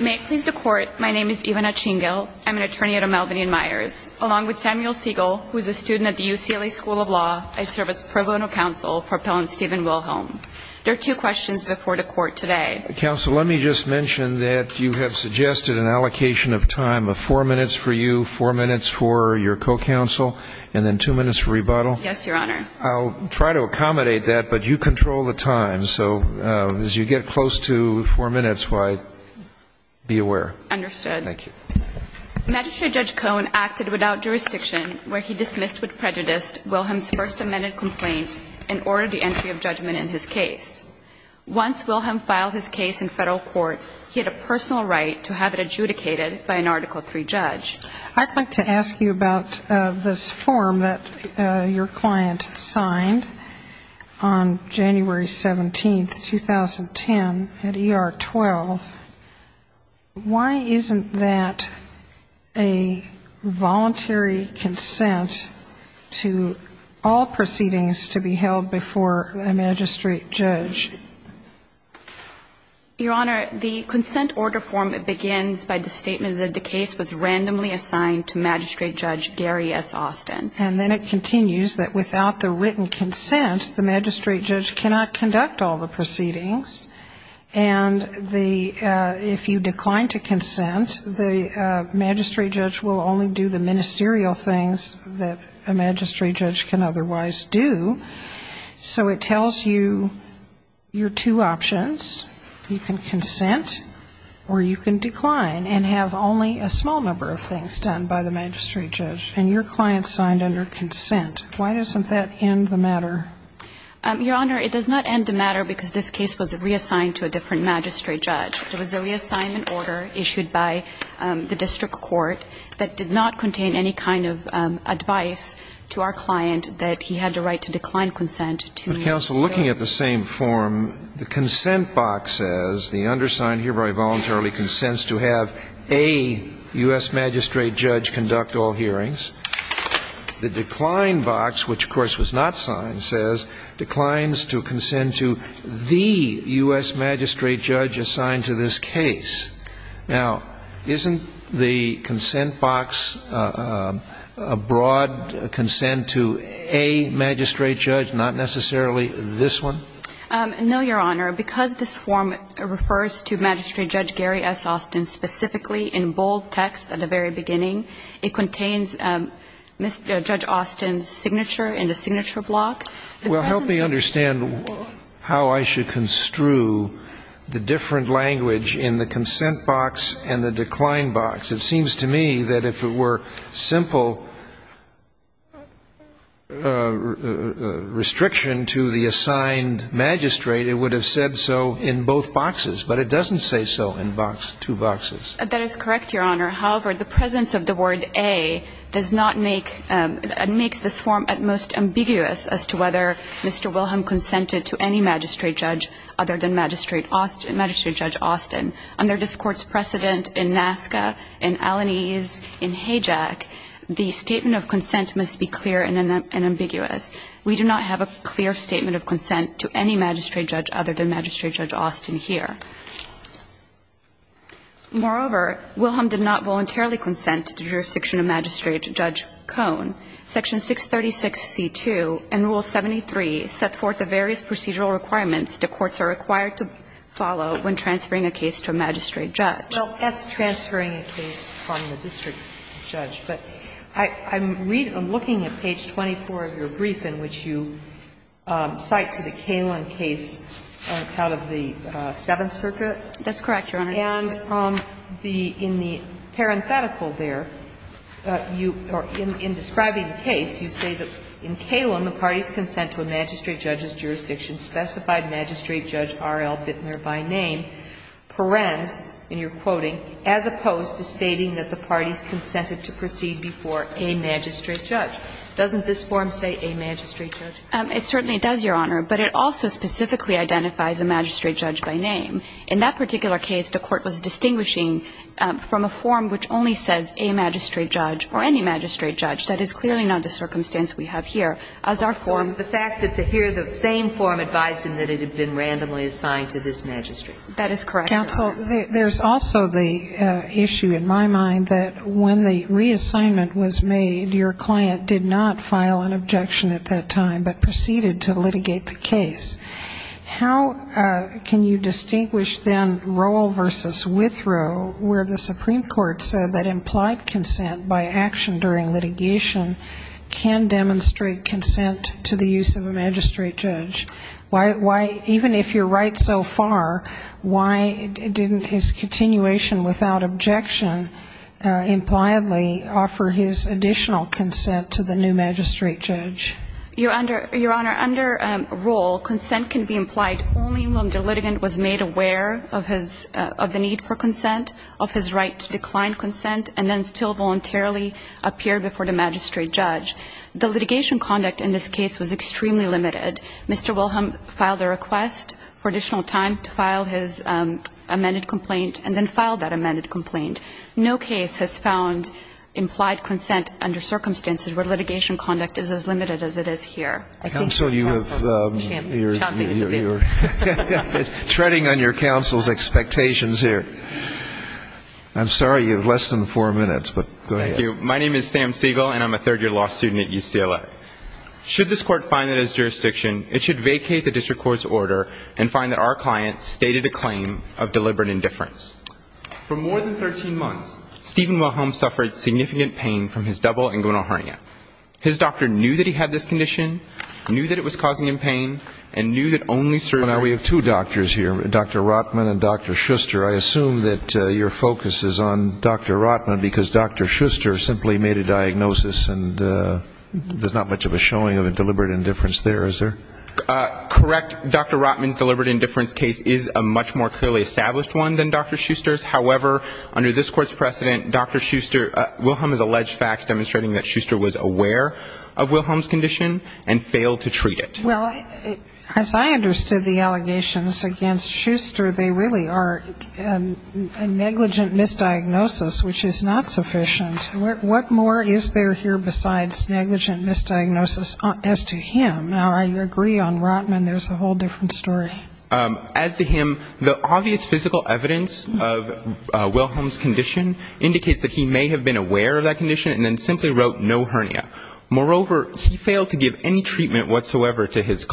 May it please the Court, my name is Ivana Chingill. I'm an attorney at a Melvin & Myers. Along with Samuel Siegel, who is a student at the UCLA School of Law, I serve as pro bono counsel for Appellant Stephen Wilhelm. There are two questions before the Court today. Counsel, let me just mention that you have suggested an allocation of time of four minutes for you, four minutes for your co-counsel, and then two minutes for rebuttal. Yes, Your Honor. I'll try to accommodate that, but you control the time, so as you get close to four minutes, why don't you be aware. Understood. Thank you. Magistrate Judge Cohn acted without jurisdiction where he dismissed with prejudice Wilhelm's First Amendment complaint and ordered the entry of judgment in his case. Once Wilhelm filed his case in Federal Court, he had a personal right to have it adjudicated by an Article III judge. I'd like to ask you about this form that your client signed on January 17, 2010, at ER-12, why isn't that a voluntary consent to all proceedings to be held before a magistrate judge? Your Honor, the consent order form begins by the statement that the case was randomly assigned to Magistrate Judge Gary S. Austin. And then it continues that without the written consent, the magistrate judge cannot conduct all the proceedings, and if you decline to consent, the magistrate judge will only do the ministerial things that a magistrate judge can otherwise do. So it tells you your two options. You can consent or you can decline and have only a small number of things done by the magistrate judge. And your client signed under consent. Why doesn't that end the matter? Your Honor, it does not end the matter because this case was reassigned to a different magistrate judge. It was a reassignment order issued by the district court that did not contain any kind of advice to our client that he had the right to decline consent to a magistrate judge. But, counsel, looking at the same form, the consent box says the undersigned hereby voluntarily consents to have a U.S. magistrate judge conduct all hearings. The decline box, which, of course, was not signed, says declines to consent to the U.S. magistrate judge assigned to this case. Now, isn't the consent box a broad consent to a magistrate judge, not necessarily this one? No, Your Honor. Because this form refers to Magistrate Judge Gary S. Austin specifically in bold text at the very beginning. It contains Mr. Judge Austin's signature in the signature block. Well, help me understand how I should construe the different language in the consent box and the decline box. It seems to me that if it were simple restriction to the assigned magistrate, it would have said so in both boxes. But it doesn't say so in two boxes. That is correct, Your Honor. However, the presence of the word A does not make – makes this form at most ambiguous as to whether Mr. Wilhelm consented to any magistrate judge other than Magistrate Judge Austin. Under this Court's precedent in NASCA, in Alaniz, in Hayjack, the statement of consent must be clear and ambiguous. We do not have a clear statement of consent to any magistrate judge other than Magistrate Judge Austin here. Moreover, Wilhelm did not voluntarily consent to the jurisdiction of Magistrate Judge Cohn. Section 636C2 and Rule 73 set forth the various procedural requirements the courts are required to follow when transferring a case to a magistrate judge. Well, that's transferring a case from the district judge. But I'm looking at page 24 of your brief in which you cite to the Kalin case out of the Seventh Circuit. That's correct, Your Honor. And the – in the parenthetical there, you – or in describing the case, you say that in Kalin, the parties consent to a magistrate judge's jurisdiction specified Magistrate Judge R.L. Bittner by name, parens, and you're quoting, as opposed to stating that the parties consented to proceed before a magistrate judge. Doesn't this form say a magistrate judge? It certainly does, Your Honor, but it also specifically identifies a magistrate judge by name. In that particular case, the Court was distinguishing from a form which only says a magistrate judge or any magistrate judge. That is clearly not the circumstance we have here as our form. So it's the fact that here the same form advised him that it had been randomly assigned to this magistrate. That is correct, Your Honor. Counsel, there's also the issue in my mind that when the reassignment was made, your client did not file an objection at that time but proceeded to litigate the case. How can you distinguish then Rowell versus Withrow, where the Supreme Court said that implied consent by action during litigation can demonstrate consent to the use of a magistrate judge? Why – even if you're right so far, why didn't his continuation without objection impliedly offer his additional consent to the new magistrate judge? Your Honor, under Rowell, consent can be implied only when the litigant was made aware of his – of the need for consent, of his right to decline consent, and then still voluntarily appear before the magistrate judge. The litigation conduct in this case was extremely limited. Mr. Wilhelm filed a request for additional time to file his amended complaint and then filed that amended complaint. No case has found implied consent under circumstances where litigation conduct is as limited as it is here. Counsel, you have – you're treading on your counsel's expectations here. I'm sorry, you have less than four minutes, but go ahead. Thank you. My name is Sam Siegel, and I'm a third-year law student at UCLA. Should this Court find that as jurisdiction, it should vacate the district court's order and find that our client stated a claim of deliberate indifference. For more than 13 months, Stephen Wilhelm suffered significant pain from his double inguinal hernia. His doctor knew that he had this condition, knew that it was causing him pain, and knew that only certain – Your Honor, we have two doctors here, Dr. Rotman and Dr. Schuster. I assume that your focus is on Dr. Rotman because Dr. Schuster simply made a diagnosis and there's not much of a showing of a deliberate indifference there, is there? Correct. Dr. Rotman's deliberate indifference case is a much more clearly established one than Dr. Schuster's. However, under this Court's precedent, Dr. Schuster – Wilhelm has alleged facts demonstrating that Schuster was aware of Wilhelm's condition and failed to treat it. Well, as I understood the allegations against Schuster, they really are a negligent misdiagnosis, which is not sufficient. What more is there here besides negligent misdiagnosis as to him? Now, I agree on Rotman, there's a whole different story. As to him, the obvious physical evidence of Wilhelm's condition indicates that he may have been aware of that condition and then simply wrote no hernia. Moreover, he failed to give any treatment whatsoever to his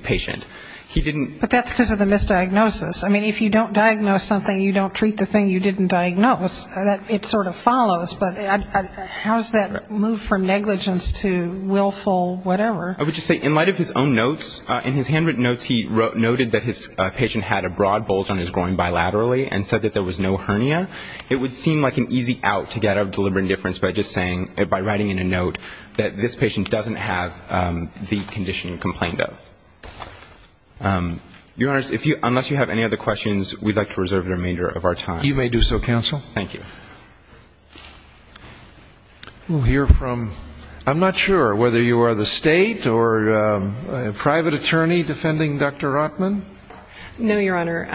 patient. He didn't – But that's because of the misdiagnosis. I mean, if you don't diagnose something, you don't treat the thing you didn't diagnose. It sort of follows, but how does that move from negligence to willful whatever? I would just say, in light of his own notes, in his handwritten notes, he noted that his patient had a broad bulge on his groin bilaterally and said that there was no hernia. It would seem like an easy out to get out of deliberate indifference by just saying – by writing in a note that this patient doesn't have the condition he complained of. Your Honors, unless you have any other questions, we'd like to reserve the remainder of our time. You may do so, Counsel. Thank you. We'll hear from – I'm not sure whether you are the State or a private attorney defending Dr. Rotman. No, Your Honor.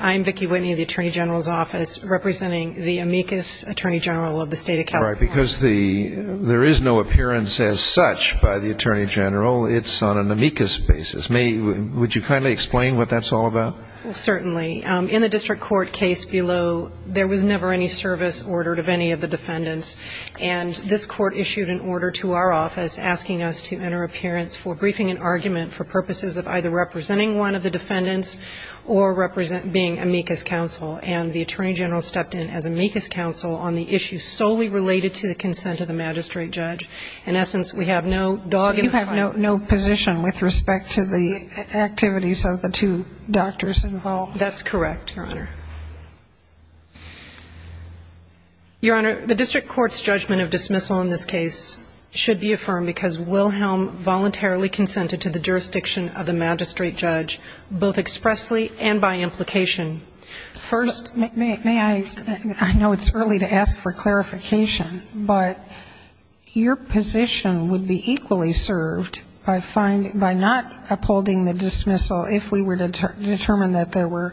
I'm Vicki Whitney of the Attorney General's Office, representing the amicus Attorney General of the State of California. Right, because the – there is no appearance as such by the Attorney General. It's on an amicus basis. May – would you kindly explain what that's all about? Certainly. In the district court case below, there was never any service ordered of any of the defendants. And this court issued an order to our office asking us to enter appearance for briefing an argument for purposes of either representing one of the defendants or represent – being amicus counsel. And the Attorney General stepped in as amicus counsel on the issue solely related to the consent of the magistrate judge. In essence, we have no – So you have no position with respect to the activities of the two doctors involved? That's correct, Your Honor. Your Honor, the district court's judgment of dismissal in this case should be affirmed because Wilhelm voluntarily consented to the jurisdiction of the magistrate judge, both expressly and by implication. First – May I – I know it's early to ask for clarification, but your position would be equally served by finding – by not upholding the dismissal if we were to determine that there were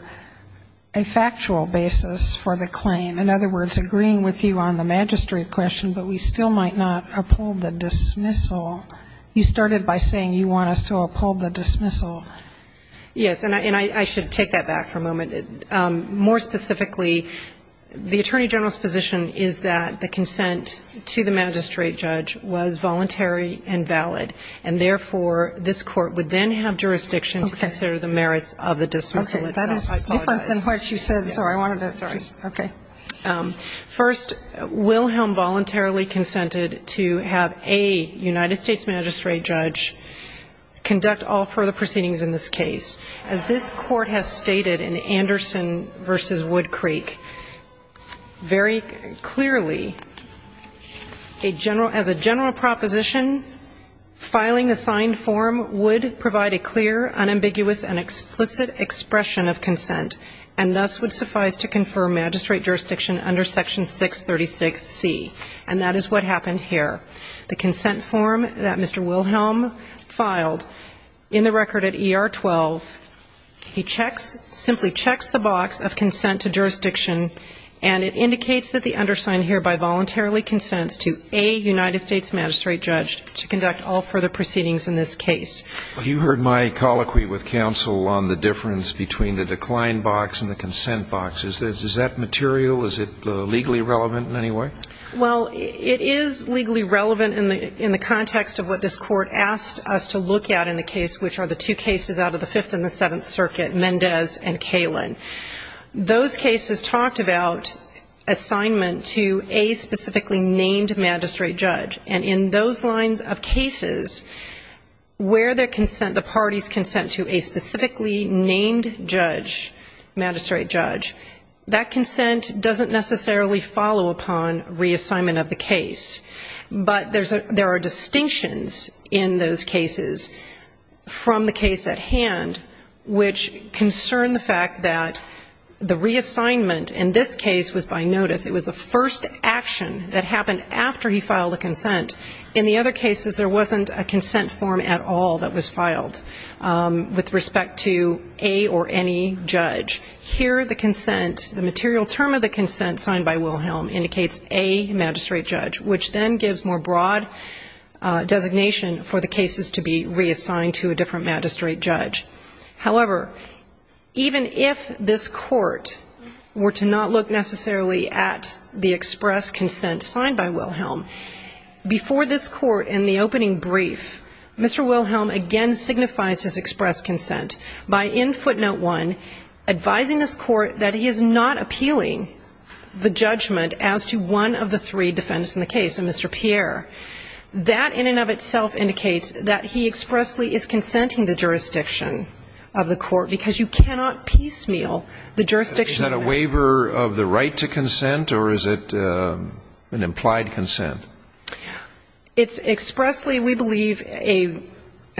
a factual basis for the claim. In other words, agreeing with you on the magistrate question, but we still might not uphold the dismissal. You started by saying you want us to uphold the dismissal. Yes. And I should take that back for a moment. More specifically, the Attorney General's position is that the consent to the magistrate judge was voluntary and valid, and therefore this Court would then have jurisdiction to consider the merits of the dismissal itself. Okay. That is different than what you said, so I wanted to – Sorry. Okay. First, Wilhelm voluntarily consented to have a United States magistrate judge conduct all further proceedings in this case. As this Court has stated in Anderson v. Woodcreek very clearly, a general – as a general proposition, filing the signed form would provide a clear, unambiguous, and explicit expression of consent, and thus would suffice to confer magistrate jurisdiction under Section 636C. And that is what happened here. The consent form that Mr. Wilhelm filed in the record at ER 12, he checks – simply checks the box of consent to jurisdiction, and it indicates that the undersigned hereby voluntarily consents to a United States magistrate judge to conduct all further proceedings in this case. You heard my colloquy with counsel on the difference between the decline box and the consent box. Is that material? Is it legally relevant in any way? Well, it is legally relevant in the context of what this Court asked us to look at in the case, which are the two cases out of the Fifth and the Seventh Circuit, Mendez and Kalin. Those cases talked about assignment to a specifically named magistrate judge. And in those lines of cases, where the parties consent to a specifically named judge, magistrate judge, that consent doesn't necessarily follow upon reassignment of the case. But there are distinctions in those cases from the case at hand, which concern the fact that the reassignment in this case was by notice. It was the first action that happened after he filed the consent. In the other cases, there wasn't a consent form at all that was filed with respect to a or any judge. Here, the consent, the material term of the consent signed by Wilhelm indicates a magistrate judge, which then gives more broad designation for the cases to be reassigned to a different magistrate judge. However, even if this Court were to not look necessarily at the express consent signed by Wilhelm, before this Court in the opening brief, Mr. Wilhelm again signifies his express consent by in footnote one advising this Court that he is not appealing the judgment as to one of the three defendants in the case, Mr. Pierre. That in and of itself indicates that he expressly is consenting the jurisdiction of the Court, because you cannot piecemeal the jurisdiction. Is that a waiver of the right to consent or is it an implied consent? It's expressly, we believe, an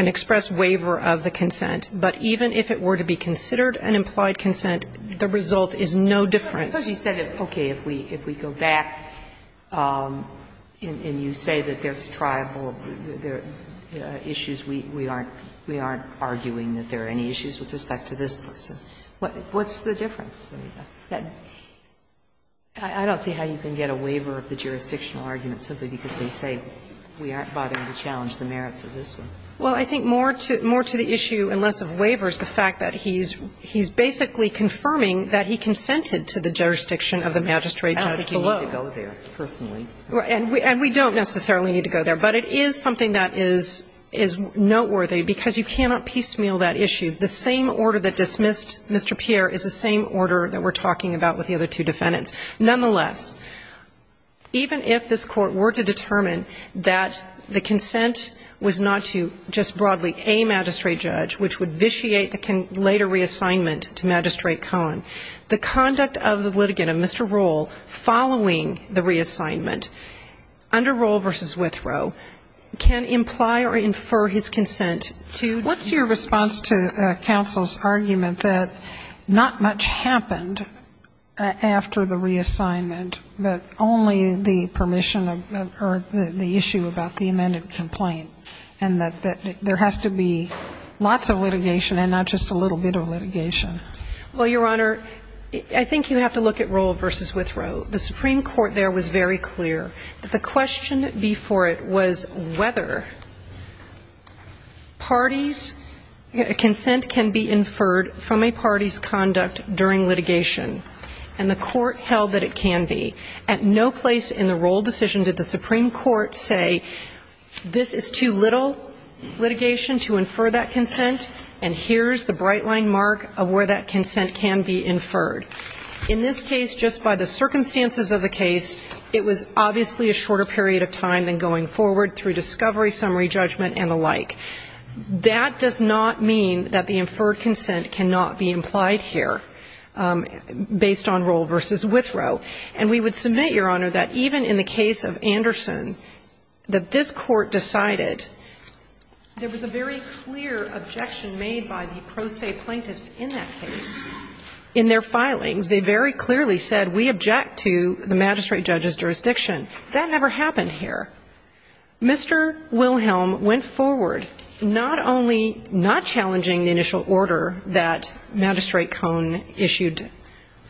express waiver of the consent. But even if it were to be considered an implied consent, the result is no different. Sotomayor, because you said, okay, if we go back and you say that there's a tribal issue, we aren't arguing that there are any issues with respect to this person, what's the difference? I don't see how you can get a waiver of the jurisdictional argument simply because they say we aren't bothering to challenge the merits of this one. Well, I think more to the issue and less of waivers, the fact that he's basically confirming that he consented to the jurisdiction of the magistrate judge below. I don't think you need to go there, personally. And we don't necessarily need to go there. But it is something that is noteworthy, because you cannot piecemeal that issue. The same order that dismissed Mr. Pierre is the same order that we're talking about with the other two defendants. Nonetheless, even if this Court were to determine that the consent was not to just broadly a magistrate judge, which would vitiate the later reassignment to Magistrate Cohen, the conduct of the litigant, of Mr. Rohl, following the reassignment under Rohl v. Withrow can imply or infer his consent to the judge. But what's your response to counsel's argument that not much happened after the reassignment, but only the permission or the issue about the amended complaint, and that there has to be lots of litigation and not just a little bit of litigation? Well, Your Honor, I think you have to look at Rohl v. Withrow. The Supreme Court there was very clear that the question before it was whether parties' consent can be inferred from a party's conduct during litigation, and the Court held that it can be. At no place in the Rohl decision did the Supreme Court say this is too little litigation to infer that consent, and here's the bright-line mark of where that consent can be inferred. In this case, just by the circumstances of the case, it was obviously a shorter period of time than going forward through discovery, summary judgment, and the like. That does not mean that the inferred consent cannot be implied here based on Rohl v. Withrow. And we would submit, Your Honor, that even in the case of Anderson, that this Court decided there was a very clear objection made by the pro se plaintiffs in that case in their filings. They very clearly said, we object to the magistrate judge's jurisdiction. That never happened here. Mr. Wilhelm went forward, not only not challenging the initial order that Magistrate Cohn issued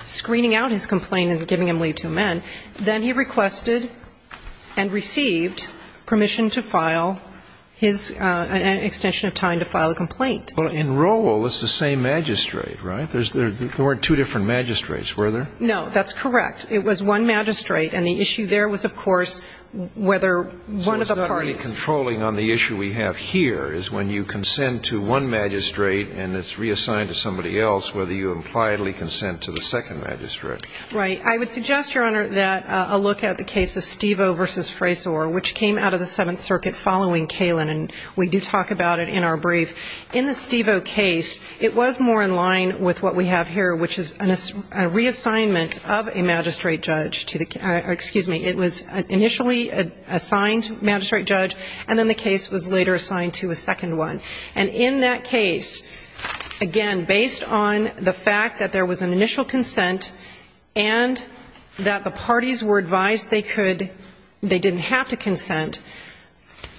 screening out his complaint and giving him leave to amend, then he requested and received permission to file his extension of time to file a complaint. Well, in Rohl, it's the same magistrate, right? There weren't two different magistrates, were there? No, that's correct. It was one magistrate. And the issue there was, of course, whether one of the parties So it's not really controlling on the issue we have here, is when you consent to one magistrate and it's reassigned to somebody else, whether you impliedly consent to the second magistrate. Right. I would suggest, Your Honor, that a look at the case of Stivo v. Frasor, which came out of the Seventh Circuit following Kalin, and we do talk about it in our brief. In the Stivo case, it was more in line with what we have here, which is a reassignment of a magistrate judge to the excuse me, it was initially assigned magistrate judge, and then the case was later assigned to a second one. And in that case, again, based on the fact that there was an initial consent and that the parties were advised they could, they didn't have to consent,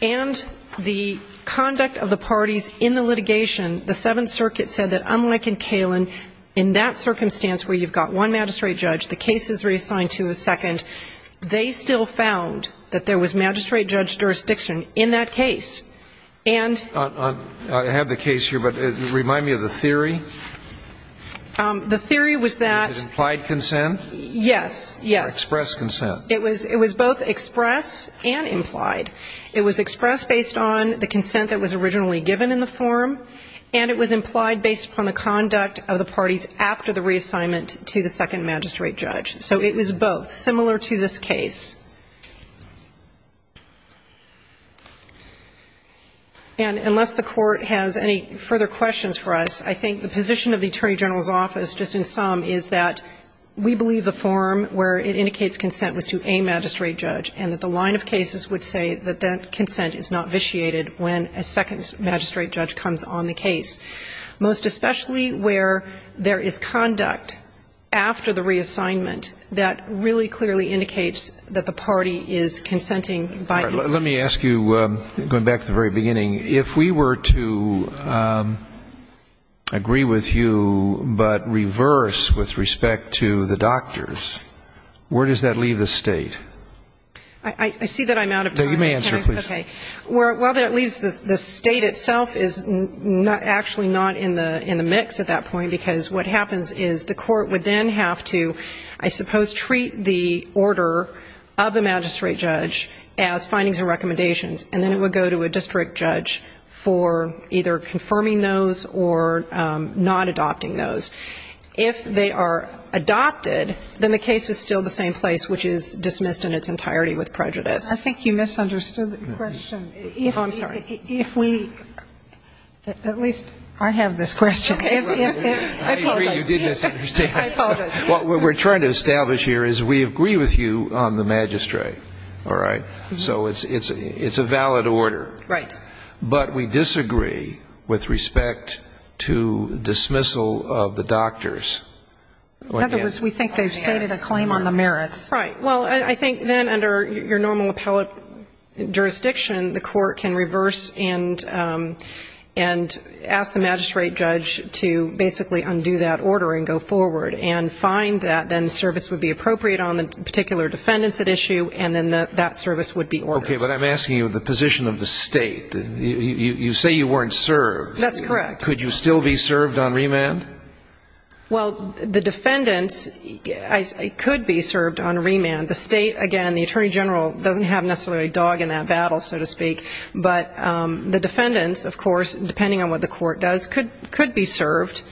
and the conduct of the parties in the litigation, the Seventh Circuit said that unlike in Kalin, in that circumstance where you've got one magistrate judge, the case is reassigned to a second, they still found that there was magistrate judge jurisdiction in that case. And I have the case here, but remind me of the theory. The theory was that implied consent? Yes, yes. Expressed consent. It was both expressed and implied. It was expressed based on the consent that was originally given in the form, and it was implied based upon the conduct of the parties after the reassignment to the second magistrate judge. So it was both, similar to this case. And unless the Court has any further questions for us, I think the position of the Attorney General's office, just in sum, is that we believe the form where it indicates consent was to a magistrate judge, and that the line of cases would say that that would be the case, most especially where there is conduct after the reassignment that really clearly indicates that the party is consenting by influence. Let me ask you, going back to the very beginning, if we were to agree with you but reverse with respect to the doctors, where does that leave the State? I see that I'm out of time. You may answer, please. Okay. Well, that leaves the State itself is actually not in the mix at that point, because what happens is the Court would then have to, I suppose, treat the order of the magistrate judge as findings and recommendations, and then it would go to a district judge for either confirming those or not adopting those. If they are adopted, then the case is still the same place, which is dismissed in its entirety with prejudice. I think you misunderstood the question. Oh, I'm sorry. If we, at least I have this question. I apologize. I agree you did misunderstand. I apologize. What we're trying to establish here is we agree with you on the magistrate. All right? So it's a valid order. Right. But we disagree with respect to dismissal of the doctors. In other words, we think they've stated a claim on the merits. Right. Well, I think then under your normal appellate jurisdiction, the Court can reverse and ask the magistrate judge to basically undo that order and go forward and find that then service would be appropriate on the particular defendants at issue, and then that service would be ordered. Okay. But I'm asking you the position of the State. You say you weren't served. That's correct. Could you still be served on remand? Well, the defendants could be served on remand. The State, again, the Attorney General doesn't have necessarily a dog in that battle, so to speak. But the defendants, of course, depending on what the Court does, could be served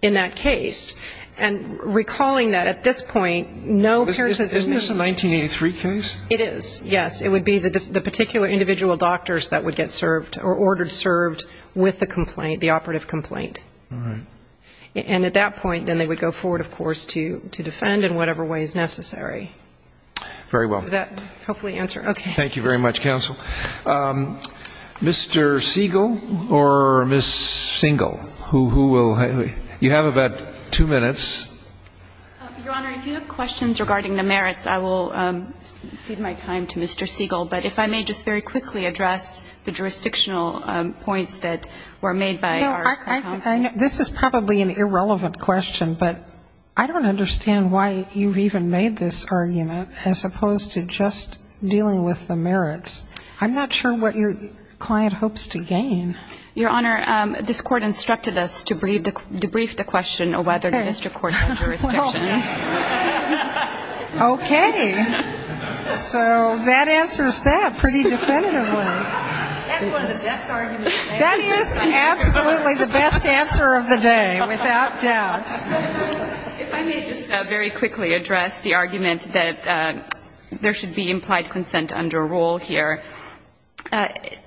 in that case. And recalling that at this point, no parent has been served. Isn't this a 1983 case? It is, yes. It would be the particular individual doctors that would get served or ordered served with the complaint, the operative complaint. All right. And at that point, then they would go forward, of course, to defend in whatever way is necessary. Very well. Does that hopefully answer? Okay. Thank you very much, counsel. Mr. Siegel or Ms. Single, who will you have about two minutes? Your Honor, if you have questions regarding the merits, I will cede my time to Mr. Siegel. But if I may just very quickly address the jurisdictional points that were made by our counsel. This is probably an irrelevant question, but I don't understand why you've even made this argument as opposed to just dealing with the merits. I'm not sure what your client hopes to gain. Your Honor, this Court instructed us to debrief the question on whether the district court had jurisdiction. Okay. So that answers that pretty definitively. That's one of the best arguments. That is absolutely the best answer of the day, without doubt. If I may just very quickly address the argument that there should be implied consent under rule here.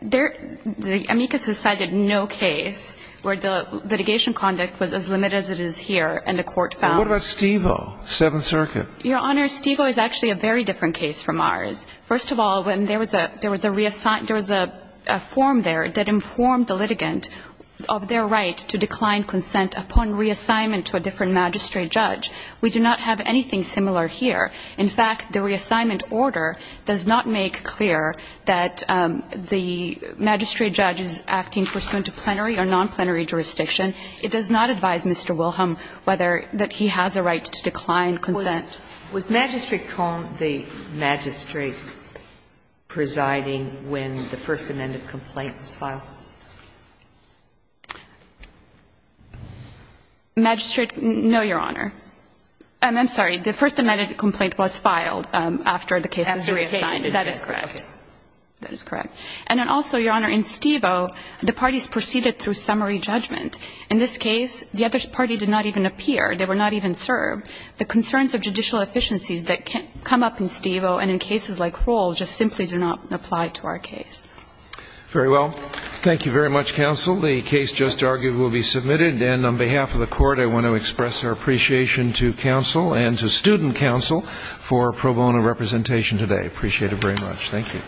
There the amicus has cited no case where the litigation conduct was as limited as it is here, and the Court found. Well, what about Stiegel, Seventh Circuit? Your Honor, Stiegel is actually a very different case from ours. First of all, when there was a reassignment, there was a form there that informed the litigant of their right to decline consent upon reassignment to a different magistrate judge. We do not have anything similar here. In fact, the reassignment order does not make clear that the magistrate judge is acting pursuant to plenary or nonplenary jurisdiction. It does not advise Mr. Wilhelm whether that he has a right to decline consent. Was Magistrate Cohn the magistrate presiding when the First Amendment complaint was filed? Magistrate? No, Your Honor. I'm sorry. The First Amendment complaint was filed after the case was reassigned. After reassignment. That is correct. That is correct. And then also, Your Honor, in Stiegel, the parties proceeded through summary judgment. In this case, the other party did not even appear. They were not even served. The concerns of judicial efficiencies that come up in Stiegel and in cases like Roll just simply do not apply to our case. Very well. Thank you very much, counsel. The case just argued will be submitted. And on behalf of the Court, I want to express our appreciation to counsel and to student counsel for pro bono representation today. Appreciate it very much. Thank you.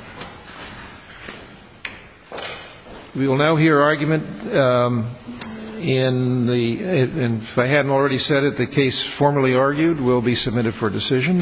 We will now hear argument in the ‑‑ if I hadn't already said it, the case formally argued will be submitted for decision.